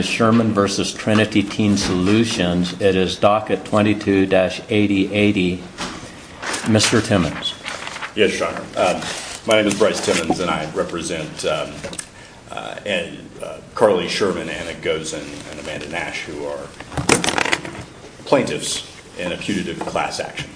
Sherman versus Trinity Teen Solutions. It is Docket 22-8080. Mr. Timmons. Yes, Your Honor. My name is Bryce Timmons and I represent Carly Sherman and it goes and Amanda Nash who are plaintiffs in a putative class action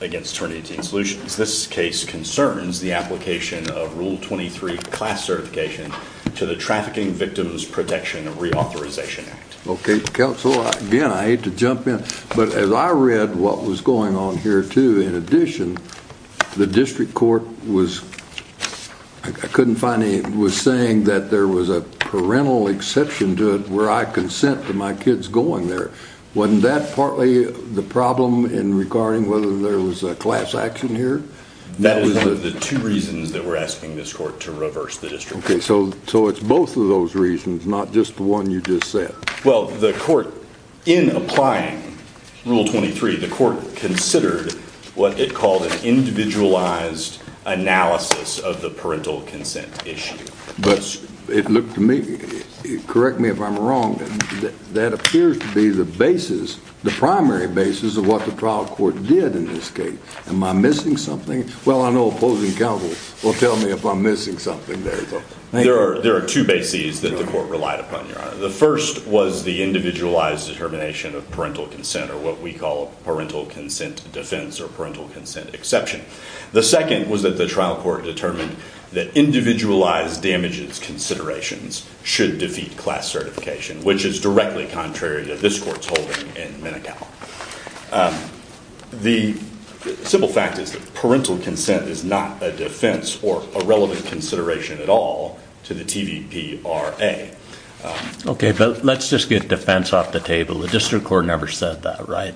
against Trinity Teen Solutions. This case concerns the application of Rule 23 class certification to the Trafficking Victims Protection and Reauthorization Act. Okay, counsel, again, I hate to jump in, but as I read what was going on here, too, in addition, the district court was, I couldn't find any, was saying that there was a parental exception to it where I consent to my kids going there. Wasn't that partly the problem in regarding whether there was a class action here? That is one of the two reasons that we're asking this court to reverse the district court. Okay, so it's both of those reasons, not just the one you just said. Well, the court, in applying Rule 23, the court considered what it called an individualized analysis of the parental consent issue. But it looked to me, correct me if I'm wrong, that appears to be the basis, the primary basis of what the trial court did in this case. Am I missing something? Well, I know opposing counsel will tell me if I'm missing something there. There are two bases that the court relied upon, Your Honor. The first was the individualized determination of parental consent or what we call parental consent defense or parental consent exception. The second was that the trial court determined that individualized damages considerations should defeat class certification, which is directly contrary to this court's holding in Menocal. The simple fact is that parental consent is not a defense or a relevant consideration at all to the TVPRA. Okay, but let's just get defense off the table. The district court never said that, right?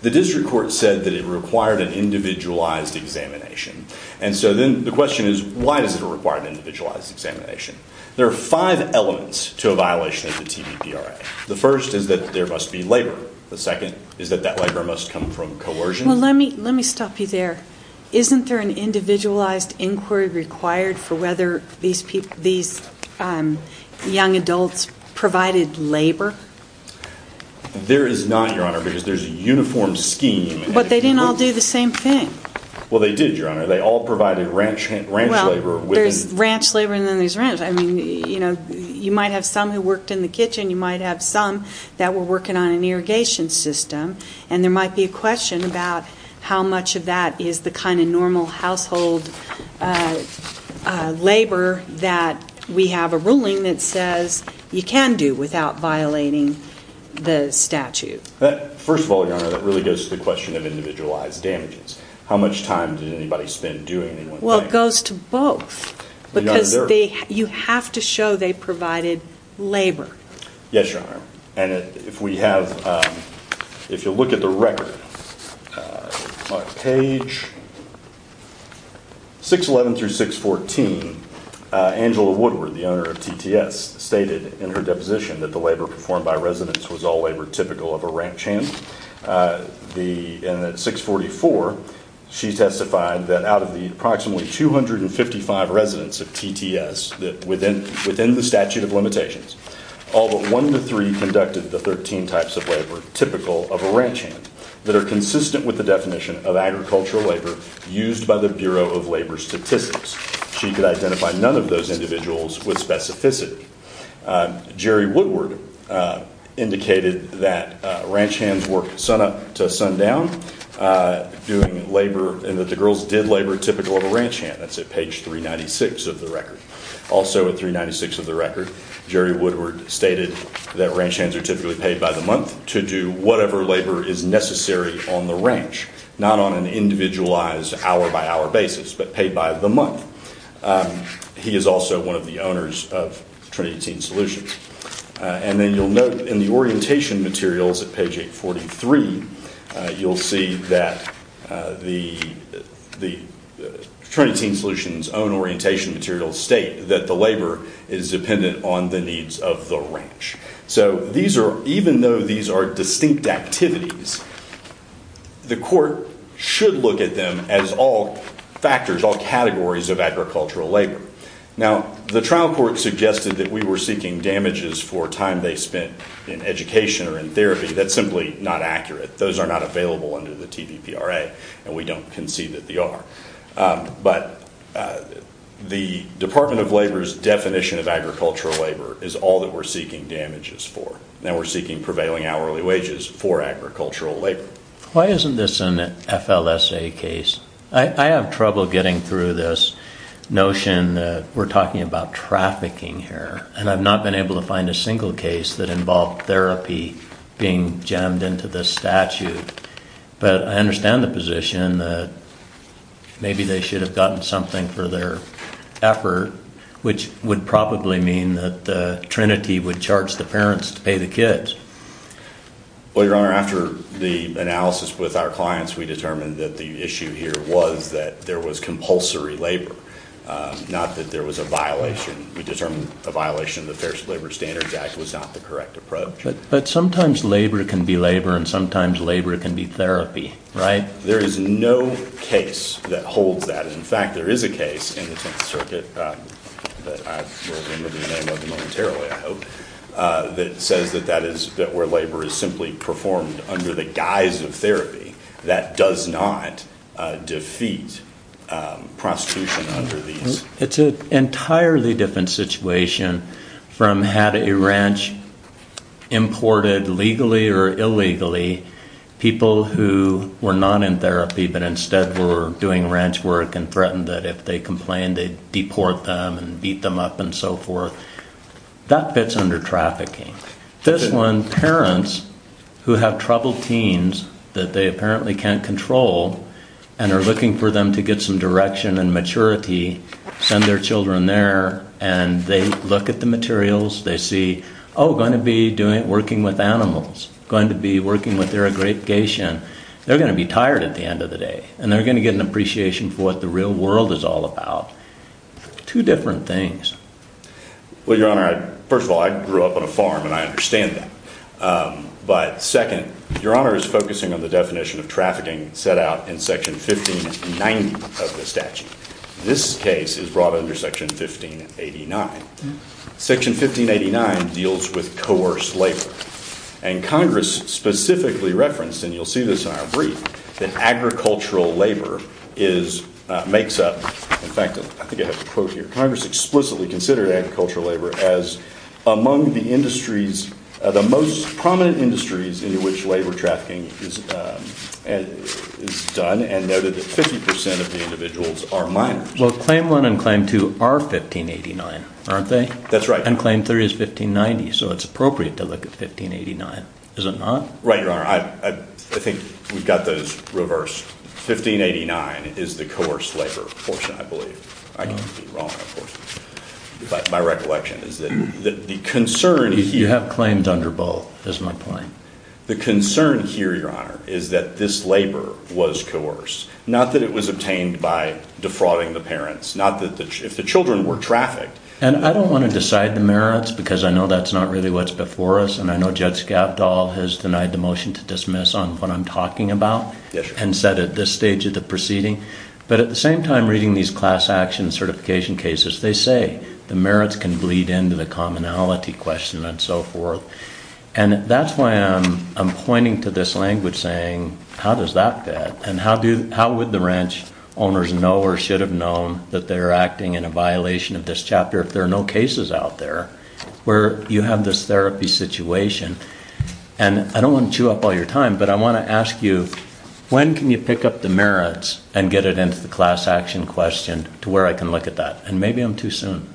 The district court said that it required an individualized examination. And so then the question is, why does it require an individualized examination? There are five elements to a violation of the TVPRA. The first is that there must be labor. The second is that that labor must come from coercion. Well, let me stop you there. Isn't there an individualized inquiry required for whether these young adults provided labor? There is not, Your Honor, because there's a uniform scheme. But they didn't all do the same thing. Well, they did, Your Honor. They all provided ranch labor. Well, there's ranch labor and then there's ranch. I mean, you know, you might have some who worked in the kitchen. You might have some that were working on an irrigation system. And there might be a question about how much of that is the kind of normal household labor that we have a ruling that says you can do without violating the statute. First of all, Your Honor, that really goes to the question of individualized damages. How much time did anybody spend doing any one thing? Well, it goes to both because you have to show they provided labor. Yes, Your Honor. And if we have, if you look at the record, on page 611 through 614, Angela Woodward, the owner of TTS, stated in her deposition that the labor performed by residents was all labor typical of a ranch hand. And at 644, she testified that out of the approximately 255 residents of TTS within the statute of limitations, all but one to three conducted the 13 types of labor typical of a ranch hand that are consistent with the definition of agricultural labor used by the Bureau of Labor Statistics. She could identify none of those individuals with specificity. Jerry Woodward indicated that ranch hands work sunup to sundown, doing labor, and that the girls did labor typical of a ranch hand. That's at page 396 of the record. Also at 396 of the record, Jerry Woodward stated that ranch hands are typically paid by the month to do whatever labor is necessary on the ranch, not on an individualized hour-by-hour basis, but paid by the month. He is also one of the owners of Trinity Teen Solutions. And then you'll note in the orientation materials at page 843, you'll see that the Trinity Teen Solutions own orientation materials state that the labor is dependent on the needs of the ranch. So even though these are distinct activities, the court should look at them as all factors, all categories of agricultural labor. Now, the trial court suggested that we were seeking damages for time they spent in education or in therapy. That's simply not accurate. Those are not available under the TVPRA, and we don't concede that they are. But the Department of Labor's definition of agricultural labor is all that we're seeking damages for. Now we're seeking prevailing hourly wages for agricultural labor. Why isn't this an FLSA case? I have trouble getting through this notion that we're talking about trafficking here, and I've not been able to find a single case that involved therapy being jammed into this statute. But I understand the position that maybe they should have gotten something for their effort, which would probably mean that Trinity would charge the parents to pay the kids. Well, Your Honor, after the analysis with our clients, we determined that the issue here was that there was compulsory labor, not that there was a violation. We determined a violation of the Fair Labor Standards Act was not the correct approach. But sometimes labor can be labor, and sometimes labor can be therapy, right? There is no case that holds that. In fact, there is a case in the Tenth Circuit that I will remember the name of momentarily, I hope, that says that that is where labor is simply performed under the guise of therapy. That does not defeat prostitution under these. It's an entirely different situation from had a ranch imported legally or illegally, people who were not in therapy but instead were doing ranch work and threatened that if they complained they'd deport them and beat them up and so forth. That fits under trafficking. This one, parents who have troubled teens that they apparently can't control and are looking for them to get some direction and maturity, send their children there, and they look at the materials, they see, oh, going to be working with animals, going to be working with their aggregation. They're going to be tired at the end of the day, and they're going to get an appreciation for what the real world is all about. Two different things. Well, Your Honor, first of all, I grew up on a farm, and I understand that. But second, Your Honor is focusing on the definition of trafficking set out in Section 1590 of the statute. This case is brought under Section 1589. Section 1589 deals with coerced labor, and Congress specifically referenced, and you'll see this in our brief, that agricultural labor makes up, in fact, I think I have a quote here, Congress explicitly considered agricultural labor as among the industries the most prominent industries in which labor trafficking is done, and noted that 50% of the individuals are minors. Well, Claim 1 and Claim 2 are 1589, aren't they? That's right. And Claim 3 is 1590, so it's appropriate to look at 1589, is it not? Right, Your Honor. I think we've got those reversed. 1589 is the coerced labor portion, I believe. I could be wrong, of course, but my recollection is that the concern here... You have claims under both, is my point. The concern here, Your Honor, is that this labor was coerced, not that it was obtained by defrauding the parents, not that the, if the children were trafficked... And I don't want to decide the merits, because I know that's not really what's before us, and I know Judge Gavdol has denied the motion to dismiss on what I'm talking about, and said at this stage of the proceeding. But at the same time, reading these class action certification cases, they say the merits can bleed into the commonality question and so forth. And that's why I'm pointing to this language saying, how does that fit? And how would the ranch owners know or should have known that they're acting in a violation of this chapter if there are no cases out there where you have this therapy situation? And I don't want to chew up all your time, but I want to ask you, when can you pick up the merits and get it into the class action question to where I can look at that? And maybe I'm too soon.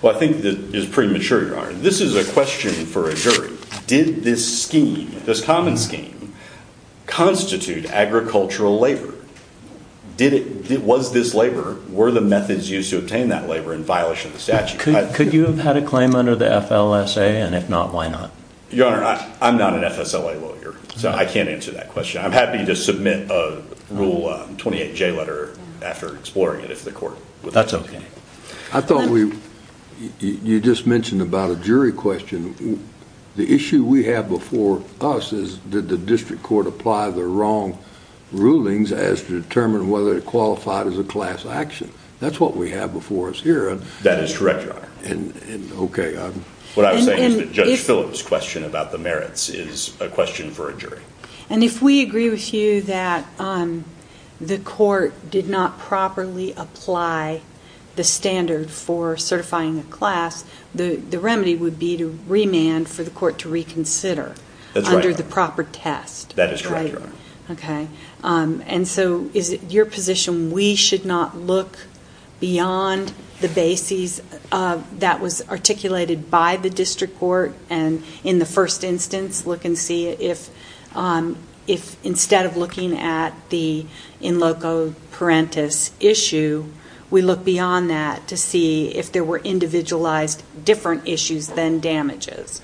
Well, I think this is premature, Your Honor. This is a question for a jury. Did this scheme, this common scheme, constitute agricultural labor? Did it, was this labor, were the methods used to obtain that labor in violation of the statute? Could you have had a claim under the FLSA, and if not, why not? Your Honor, I'm not an FSLA lawyer, so I can't answer that question. I'm happy to submit a Rule 28J letter after exploring it if the court would like to. That's okay. I thought we, you just mentioned about a jury question. The issue we have before us is, did the district court apply the wrong rulings as to determine whether it qualified as a class action? That's what we have before us here. That is correct, Your Honor. Okay. What I'm saying is that Judge Phillips' question about the merits is a question for a jury. And if we agree with you that the court did not properly apply the standard for certifying a class, the remedy would be to remand for the court to reconsider under the proper test. That is correct, Your Honor. Okay. And so is it your position we should not look beyond the bases that was articulated by the district court, and in the first instance look and see if instead of looking at the in loco parentis issue, we look beyond that to see if there were individualized different issues than damages?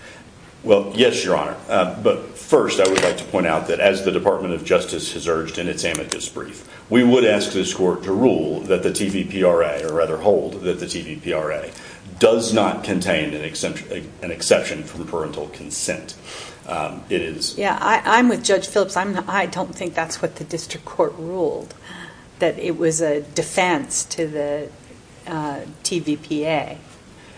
Well, yes, Your Honor. But first I would like to point out that as the Department of Justice has urged in its amicus brief, we would ask this court to rule that the TVPRA, or rather hold that the TVPRA, does not contain an exception from parental consent. Yeah, I'm with Judge Phillips. I don't think that's what the district court ruled, that it was a defense to the TVPA.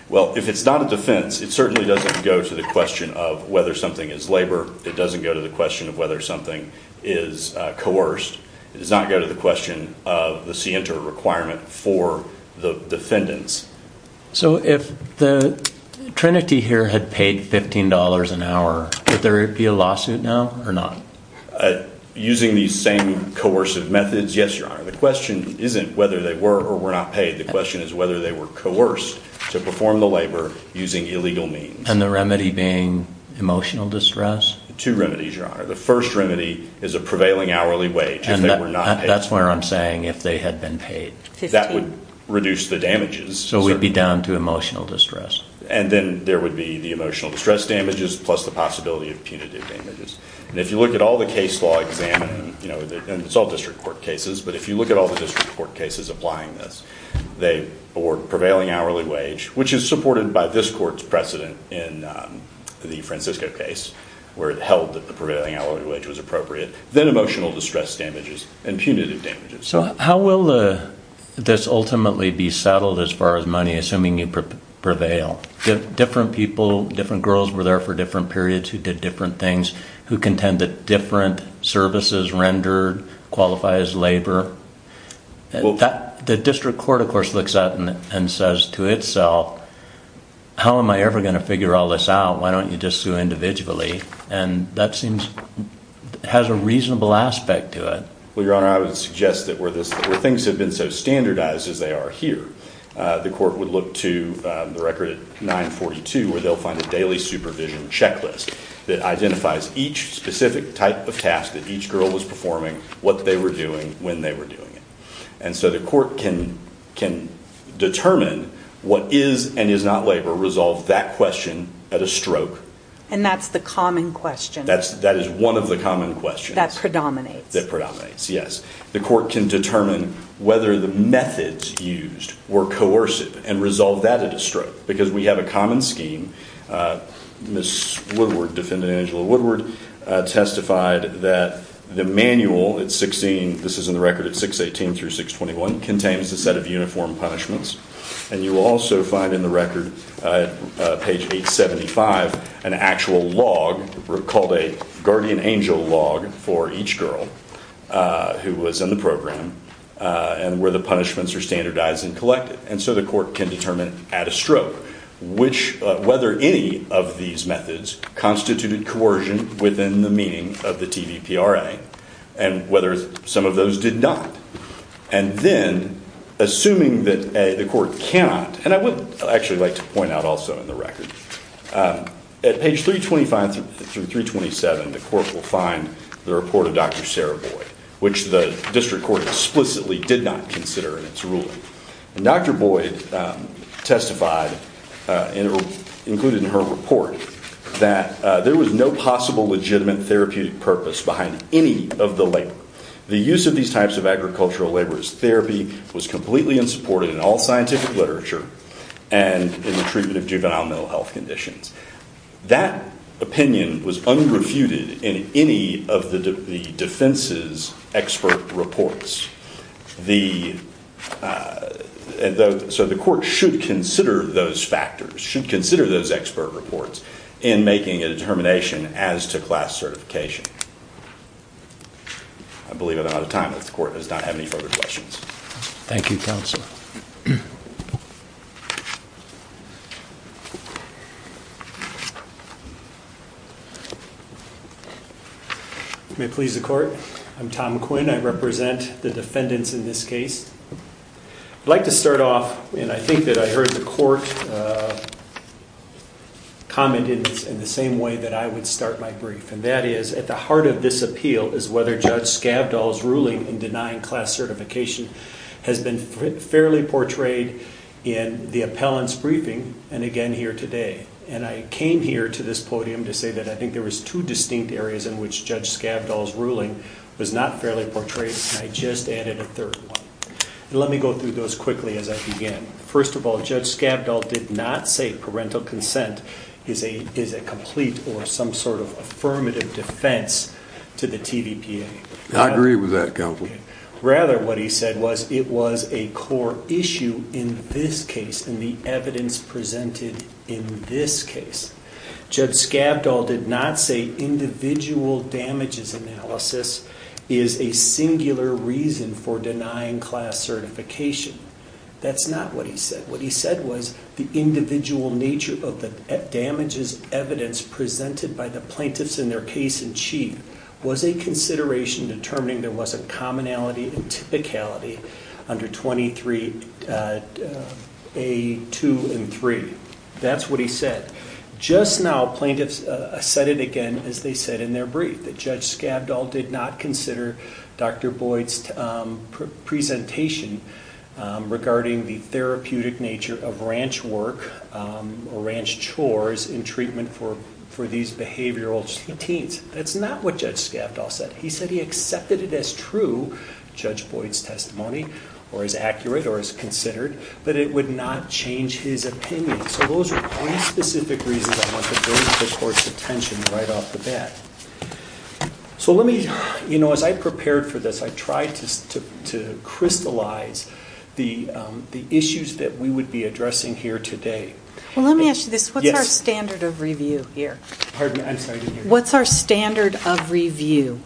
Well, if it's not a defense, it certainly doesn't go to the question of whether something is labor. It doesn't go to the question of whether something is coerced. It does not go to the question of the scienter requirement for the defendants. So if the trinity here had paid $15 an hour, would there be a lawsuit now or not? Using these same coercive methods, yes, Your Honor. The question isn't whether they were or were not paid. The question is whether they were coerced to perform the labor using illegal means. Two remedies, Your Honor. The first remedy is a prevailing hourly wage if they were not paid. That's where I'm saying if they had been paid. That would reduce the damages. So we'd be down to emotional distress. And then there would be the emotional distress damages plus the possibility of punitive damages. And if you look at all the case law examined, and it's all district court cases, but if you look at all the district court cases applying this, or prevailing hourly wage, which is supported by this court's precedent in the Francisco case, where it held that the prevailing hourly wage was appropriate, then emotional distress damages and punitive damages. So how will this ultimately be settled as far as money, assuming you prevail? Different people, different girls were there for different periods who did different things, who contended different services rendered, qualifies labor. The district court, of course, looks at it and says to itself, how am I ever going to figure all this out? Why don't you just do it individually? And that has a reasonable aspect to it. Well, Your Honor, I would suggest that where things have been so standardized as they are here, the court would look to the record at 942 where they'll find a daily supervision checklist that identifies each specific type of task that each girl was performing, what they were doing, when they were doing it. And so the court can determine what is and is not labor, resolve that question at a stroke. And that's the common question. That is one of the common questions. That predominates. That predominates, yes. The court can determine whether the methods used were coercive and resolve that at a stroke. Because we have a common scheme. Ms. Woodward, Defendant Angela Woodward, testified that the manual at 16, this is in the record at 618 through 621, contains a set of uniform punishments. And you will also find in the record at page 875 an actual log called a guardian angel log for each girl who was in the program and where the punishments are standardized and collected. And so the court can determine at a stroke whether any of these methods constituted coercion within the meaning of the TVPRA and whether some of those did not. And then, assuming that the court cannot, and I would actually like to point out also in the record, at page 325 through 327 the court will find the report of Dr. Sarah Boyd, which the district court explicitly did not consider in its ruling. And Dr. Boyd testified, included in her report, that there was no possible legitimate therapeutic purpose behind any of the labor. The use of these types of agricultural labor as therapy was completely unsupported in all scientific literature and in the treatment of juvenile mental health conditions. That opinion was unrefuted in any of the defense's expert reports. So the court should consider those factors, should consider those expert reports, in making a determination as to class certification. I believe I'm out of time. If the court does not have any further questions. Thank you, counsel. May it please the court. I'm Tom Quinn. I represent the defendants in this case. I'd like to start off, and I think that I heard the court comment in the same way that I would start my brief. And that is, at the heart of this appeal is whether Judge Skavdal's ruling in denying class certification has been fairly portrayed in the appellant's briefing, and again here today. And I came here to this podium to say that I think there was two distinct areas in which Judge Skavdal's ruling was not fairly portrayed, and I just added a third one. Let me go through those quickly as I began. First of all, Judge Skavdal did not say parental consent is a complete or some sort of affirmative defense to the TVPA. I agree with that, counsel. Rather, what he said was it was a core issue in this case, in the evidence presented in this case. Judge Skavdal did not say individual damages analysis is a singular reason for denying class certification. That's not what he said. What he said was the individual nature of the damages evidence presented by the plaintiffs in their case in chief was a consideration determining there was a commonality and typicality under 23A2 and 3. That's what he said. Just now plaintiffs said it again, as they said in their brief, that Judge Skavdal did not consider Dr. Boyd's presentation regarding the therapeutic nature of ranch work or ranch chores in treatment for these behavioral teens. That's not what Judge Skavdal said. He said he accepted it as true, Judge Boyd's testimony, or as accurate or as considered, but it would not change his opinion. So those are three specific reasons I want to bring this court's attention right off the bat. As I prepared for this, I tried to crystallize the issues that we would be addressing here today. Let me ask you this. Yes. What's our standard of review here? Pardon? I'm sorry. What's our standard of review?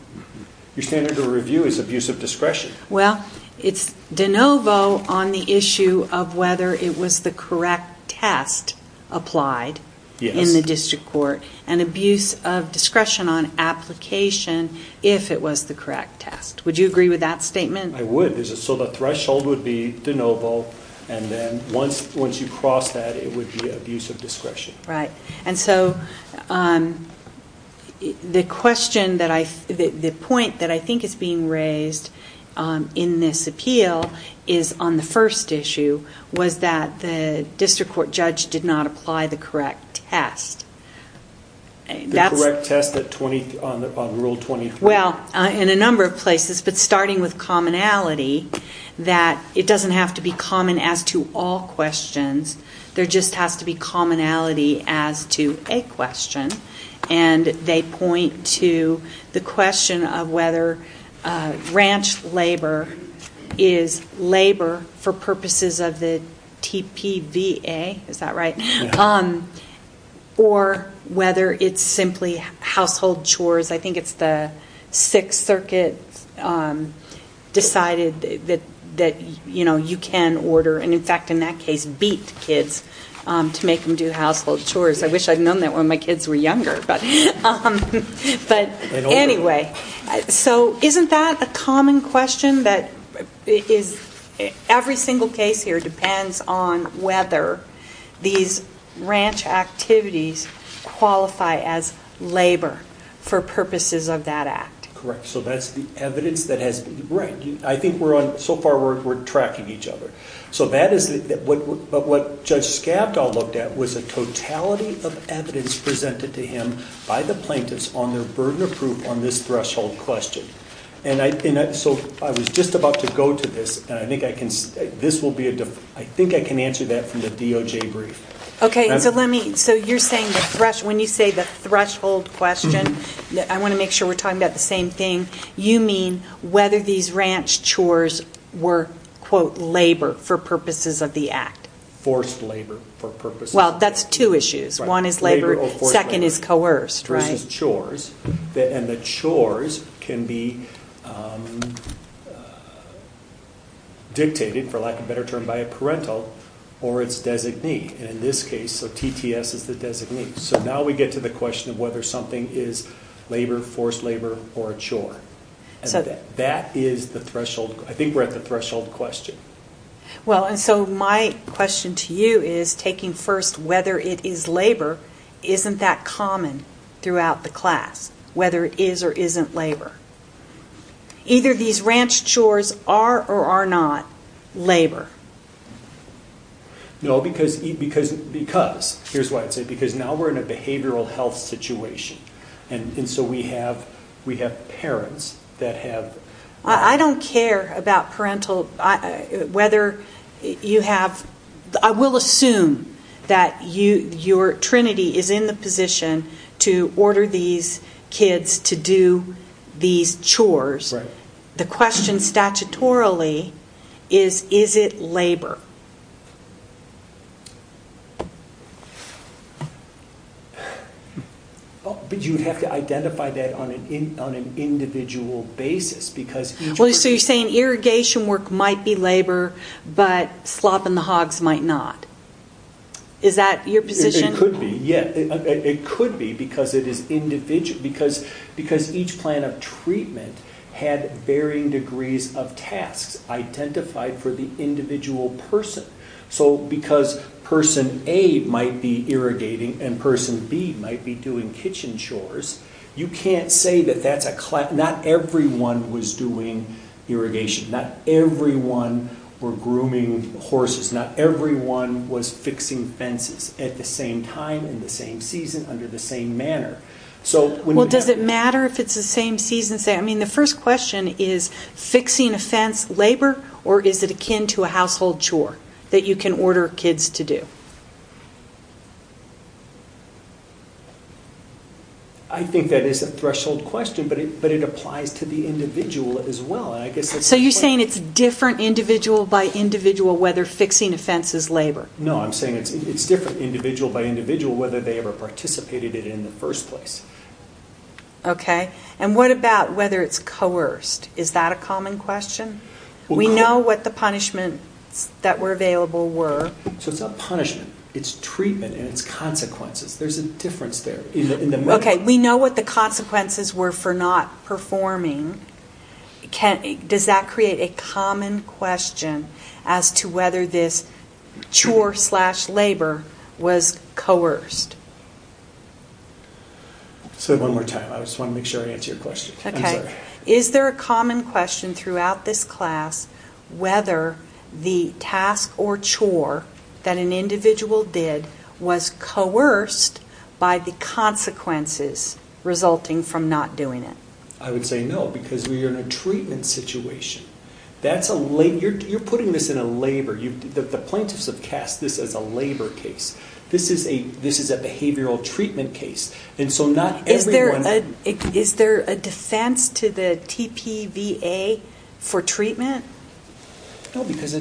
Your standard of review is abuse of discretion. Well, it's de novo on the issue of whether it was the correct test applied in the district court and abuse of discretion on application if it was the correct test. Would you agree with that statement? I would. So the threshold would be de novo, and then once you cross that, it would be abuse of discretion. Right. And so the point that I think is being raised in this appeal is on the first issue, was that the district court judge did not apply the correct test. The correct test on Rule 24? Well, in a number of places, but starting with commonality, that it doesn't have to be common as to all questions. There just has to be commonality as to a question, and they point to the question of whether ranch labor is labor for purposes of the TPVA. Is that right? Yeah. Or whether it's simply household chores. I think it's the Sixth Circuit decided that you can order, and in fact, in that case, beat kids to make them do household chores. I wish I'd known that when my kids were younger. But anyway, so isn't that a common question? Every single case here depends on whether these ranch activities qualify as labor for purposes of that act. Correct. So that's the evidence that has been. Right. I think so far we're tracking each other. But what Judge Scavdall looked at was a totality of evidence presented to him by the plaintiffs on their burden of proof on this threshold question. So I was just about to go to this, and I think I can answer that from the DOJ brief. Okay, so when you say the threshold question, I want to make sure we're talking about the same thing. You mean whether these ranch chores were, quote, labor for purposes of the act. Forced labor for purposes of the act. Well, that's two issues. One is labor. Labor or forced labor. Second is coerced, right? This is chores, and the chores can be dictated, for lack of a better term, by a parental or its designee. And in this case, so TTS is the designee. So now we get to the question of whether something is labor, forced labor, or a chore. And that is the threshold. I think we're at the threshold question. Well, and so my question to you is taking first whether it is labor isn't that common throughout the class, whether it is or isn't labor. Either these ranch chores are or are not labor. No, because now we're in a behavioral health situation. And so we have parents that have... I don't care about parental, whether you have, I will assume that your trinity is in the position to order these kids to do these chores. Right. The question statutorily is, is it labor? But you have to identify that on an individual basis because each person... Well, so you're saying irrigation work might be labor, but slopping the hogs might not. Is that your position? It could be, yeah. It could be because each plan of treatment had varying degrees of tasks identified for the individual person. So because person A might be irrigating and person B might be doing kitchen chores, you can't say that that's a class... Not everyone was doing irrigation. Not everyone were grooming horses. Not everyone was fixing fences at the same time, in the same season, under the same manner. Well, does it matter if it's the same season? I mean, the first question is, fixing a fence, labor, or is it akin to a household chore that you can order kids to do? I think that is a threshold question, but it applies to the individual as well. So you're saying it's different individual by individual whether fixing a fence is labor? No, I'm saying it's different individual by individual whether they ever participated in it in the first place. Okay. And what about whether it's coerced? Is that a common question? We know what the punishments that were available were. So it's not punishment. It's treatment and it's consequences. There's a difference there. Okay, we know what the consequences were for not performing. Does that create a common question as to whether this chore slash labor was coerced? Say it one more time. I just want to make sure I answer your question. Is there a common question throughout this class whether the task or chore that an individual did was coerced by the consequences resulting from not doing it? I would say no, because we are in a treatment situation. You're putting this in a labor. The plaintiffs have cast this as a labor case. This is a behavioral treatment case. Is there a defense to the TPVA for treatment? No, because I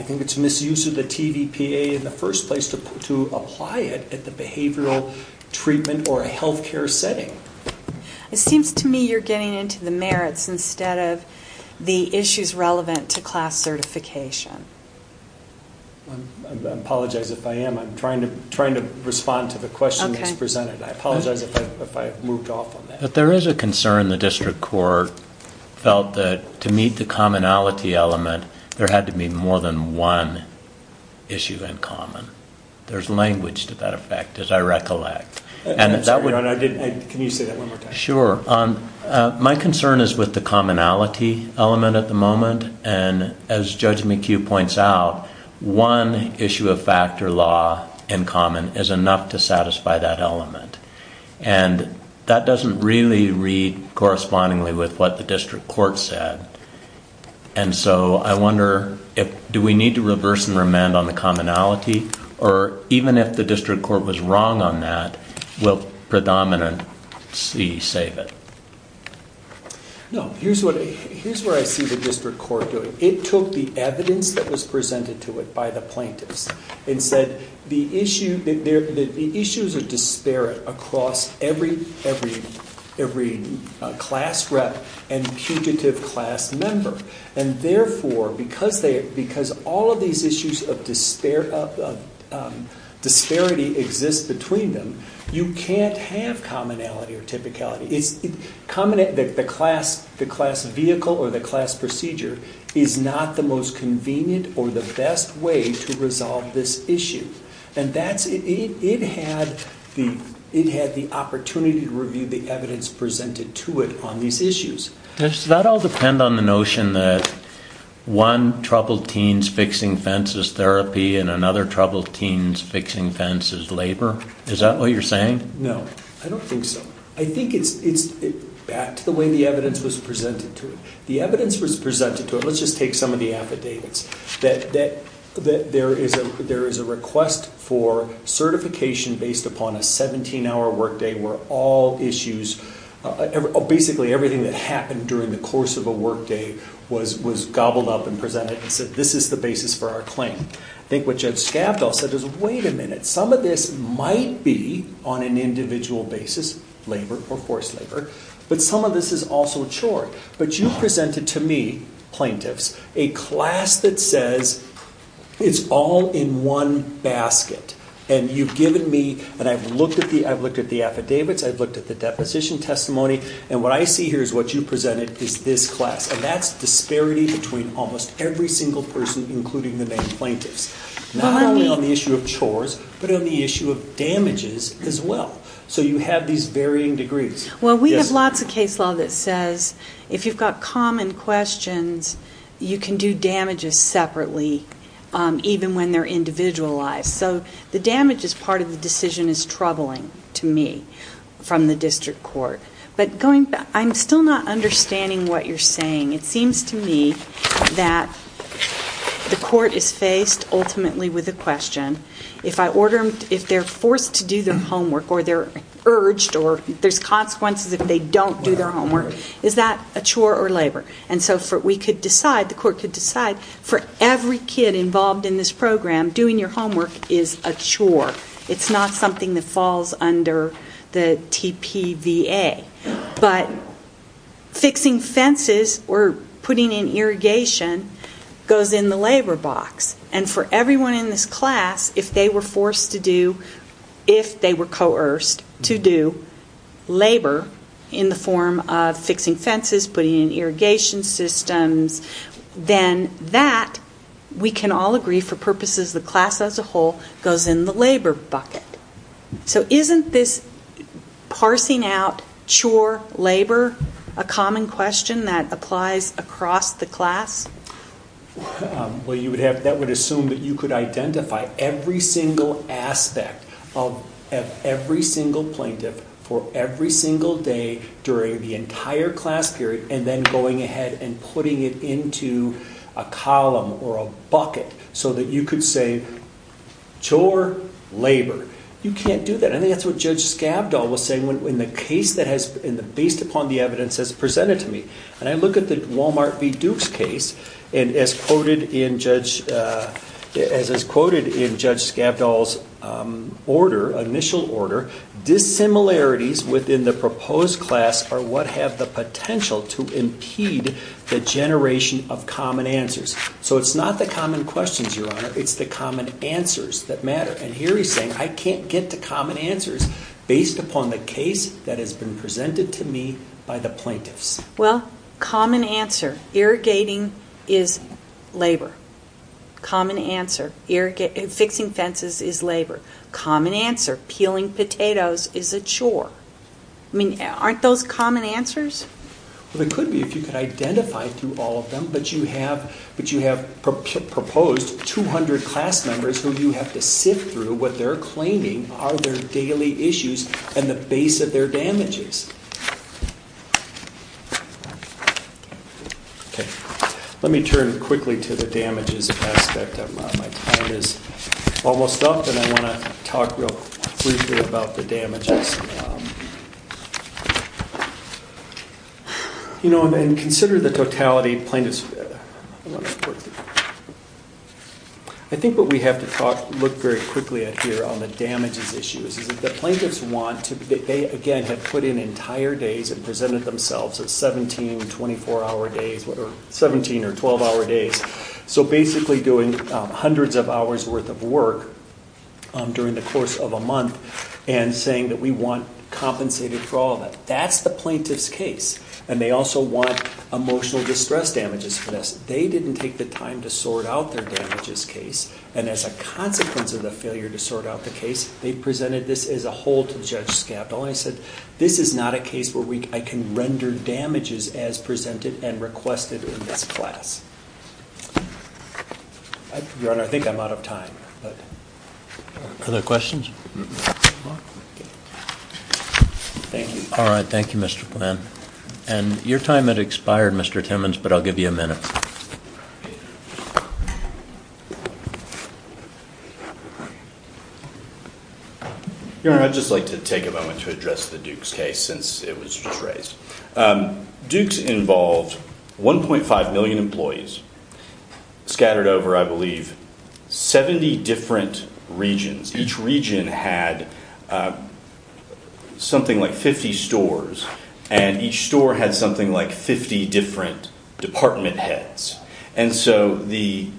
think it's misuse of the TVPA in the first place to apply it at the behavioral treatment or a healthcare setting. It seems to me you're getting into the merits instead of the issues relevant to class certification. I apologize if I am. I'm trying to respond to the question that's presented. I apologize if I moved off on that. But there is a concern the district court felt that to meet the commonality element, there had to be more than one issue in common. There's language to that effect, as I recollect. Can you say that one more time? Sure. My concern is with the commonality element at the moment. As Judge McHugh points out, one issue of fact or law in common is enough to satisfy that element. That doesn't really read correspondingly with what the district court said. Do we need to reverse and remand on the commonality? Or even if the district court was wrong on that, will predominance save it? Here's what I see the district court doing. It took the evidence that was presented to it by the plaintiffs. It said the issues are disparate across every class rep and pugitive class member. Therefore, because all of these issues of disparity exist between them, you can't have commonality or typicality. The class vehicle or the class procedure is not the most convenient or the best way to resolve this issue. It had the opportunity to review the evidence presented to it on these issues. Does that all depend on the notion that one troubled teen's fixing fence is therapy and another troubled teen's fixing fence is labor? Is that what you're saying? No, I don't think so. I think it's back to the way the evidence was presented to it. The evidence was presented to it. Let's just take some of the affidavits. There is a request for certification based upon a 17-hour workday where basically everything that happened during the course of a workday was gobbled up and presented. It said this is the basis for our claim. I think what Judge Scavdall said is wait a minute. Some of this might be on an individual basis, labor or forced labor, but some of this is also a chore. You presented to me, plaintiffs, a class that says it's all in one basket. You've given me, and I've looked at the affidavits, I've looked at the deposition testimony, and what I see here is what you presented is this class. That's disparity between almost every single person, including the main plaintiffs, not only on the issue of chores, but on the issue of damages as well. So you have these varying degrees. Well, we have lots of case law that says if you've got common questions, you can do damages separately even when they're individualized. So the damages part of the decision is troubling to me from the district court. I'm still not understanding what you're saying. It seems to me that the court is faced ultimately with a question. If they're forced to do their homework or they're urged or there's consequences if they don't do their homework, is that a chore or labor? And so we could decide, the court could decide, for every kid involved in this program, doing your homework is a chore. It's not something that falls under the TPVA. But fixing fences or putting in irrigation goes in the labor box. And for everyone in this class, if they were forced to do, if they were coerced to do labor in the form of fixing fences, putting in irrigation systems, then that, we can all agree for purposes of the class as a whole, goes in the labor bucket. So isn't this parsing out chore, labor, a common question that applies across the class? Well, you would have, that would assume that you could identify every single aspect of every single plaintiff for every single day during the entire class period and then going ahead and putting it into a column or a bucket so that you could say chore, labor. You can't do that. I think that's what Judge Skavdal was saying in the case that has, based upon the evidence that's presented to me. And I look at the Wal-Mart v. Duke's case and as quoted in Judge, as is quoted in Judge Skavdal's order, initial order, dissimilarities within the proposed class are what have the potential to impede the generation of common answers. So it's not the common questions, Your Honor. It's the common answers that matter. And here he's saying I can't get to common answers based upon the case that has been presented to me by the plaintiffs. Well, common answer, irrigating is labor. Common answer, fixing fences is labor. Common answer, peeling potatoes is a chore. I mean, aren't those common answers? Well, they could be if you could identify through all of them. But you have proposed 200 class members who you have to sift through what they're claiming are their daily issues and the base of their damages. Okay. Let me turn quickly to the damages aspect. My time is almost up and I want to talk real briefly about the damages. You know, and consider the totality plaintiffs. I think what we have to talk, look very quickly at here on the damages issues is that the plaintiffs want to, they again have put in entire days and presented themselves as 17, 24-hour days, 17 or 12-hour days. So basically doing hundreds of hours worth of work during the course of a month and saying that we want compensated for all of that. That's the plaintiff's case. And they also want emotional distress damages for this. They didn't take the time to sort out their damages case. And as a consequence of the failure to sort out the case, they presented this as a whole to Judge Scavdall and said, this is not a case where I can render damages as presented and requested in this class. Your Honor, I think I'm out of time. Other questions? Thank you. All right. Thank you, Mr. Glenn. And your time had expired, Mr. Timmons, but I'll give you a minute. Your Honor, I'd just like to take a moment to address the Dukes case since it was just raised. Dukes involved 1.5 million employees scattered over, I believe, 70 different regions. Each region had something like 50 stores, and each store had something like 50 different department heads. And so the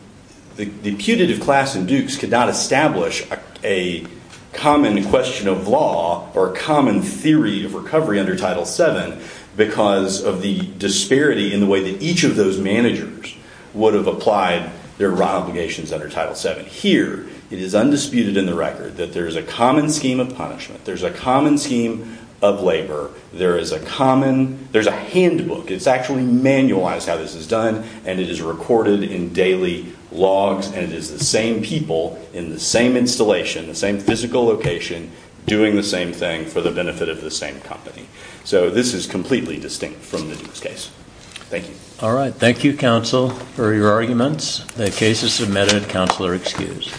putative class in Dukes could not establish a common question of law or a common theory of recovery under Title VII because of the disparity in the way that each of those managers would have applied their wrong obligations under Title VII. But here, it is undisputed in the record that there's a common scheme of punishment. There's a common scheme of labor. There is a common – there's a handbook. It's actually manualized how this is done, and it is recorded in daily logs, and it is the same people in the same installation, the same physical location, doing the same thing for the benefit of the same company. So this is completely distinct from the Dukes case. Thank you. All right. Thank you, counsel, for your arguments. The case is submitted. Counsel are excused.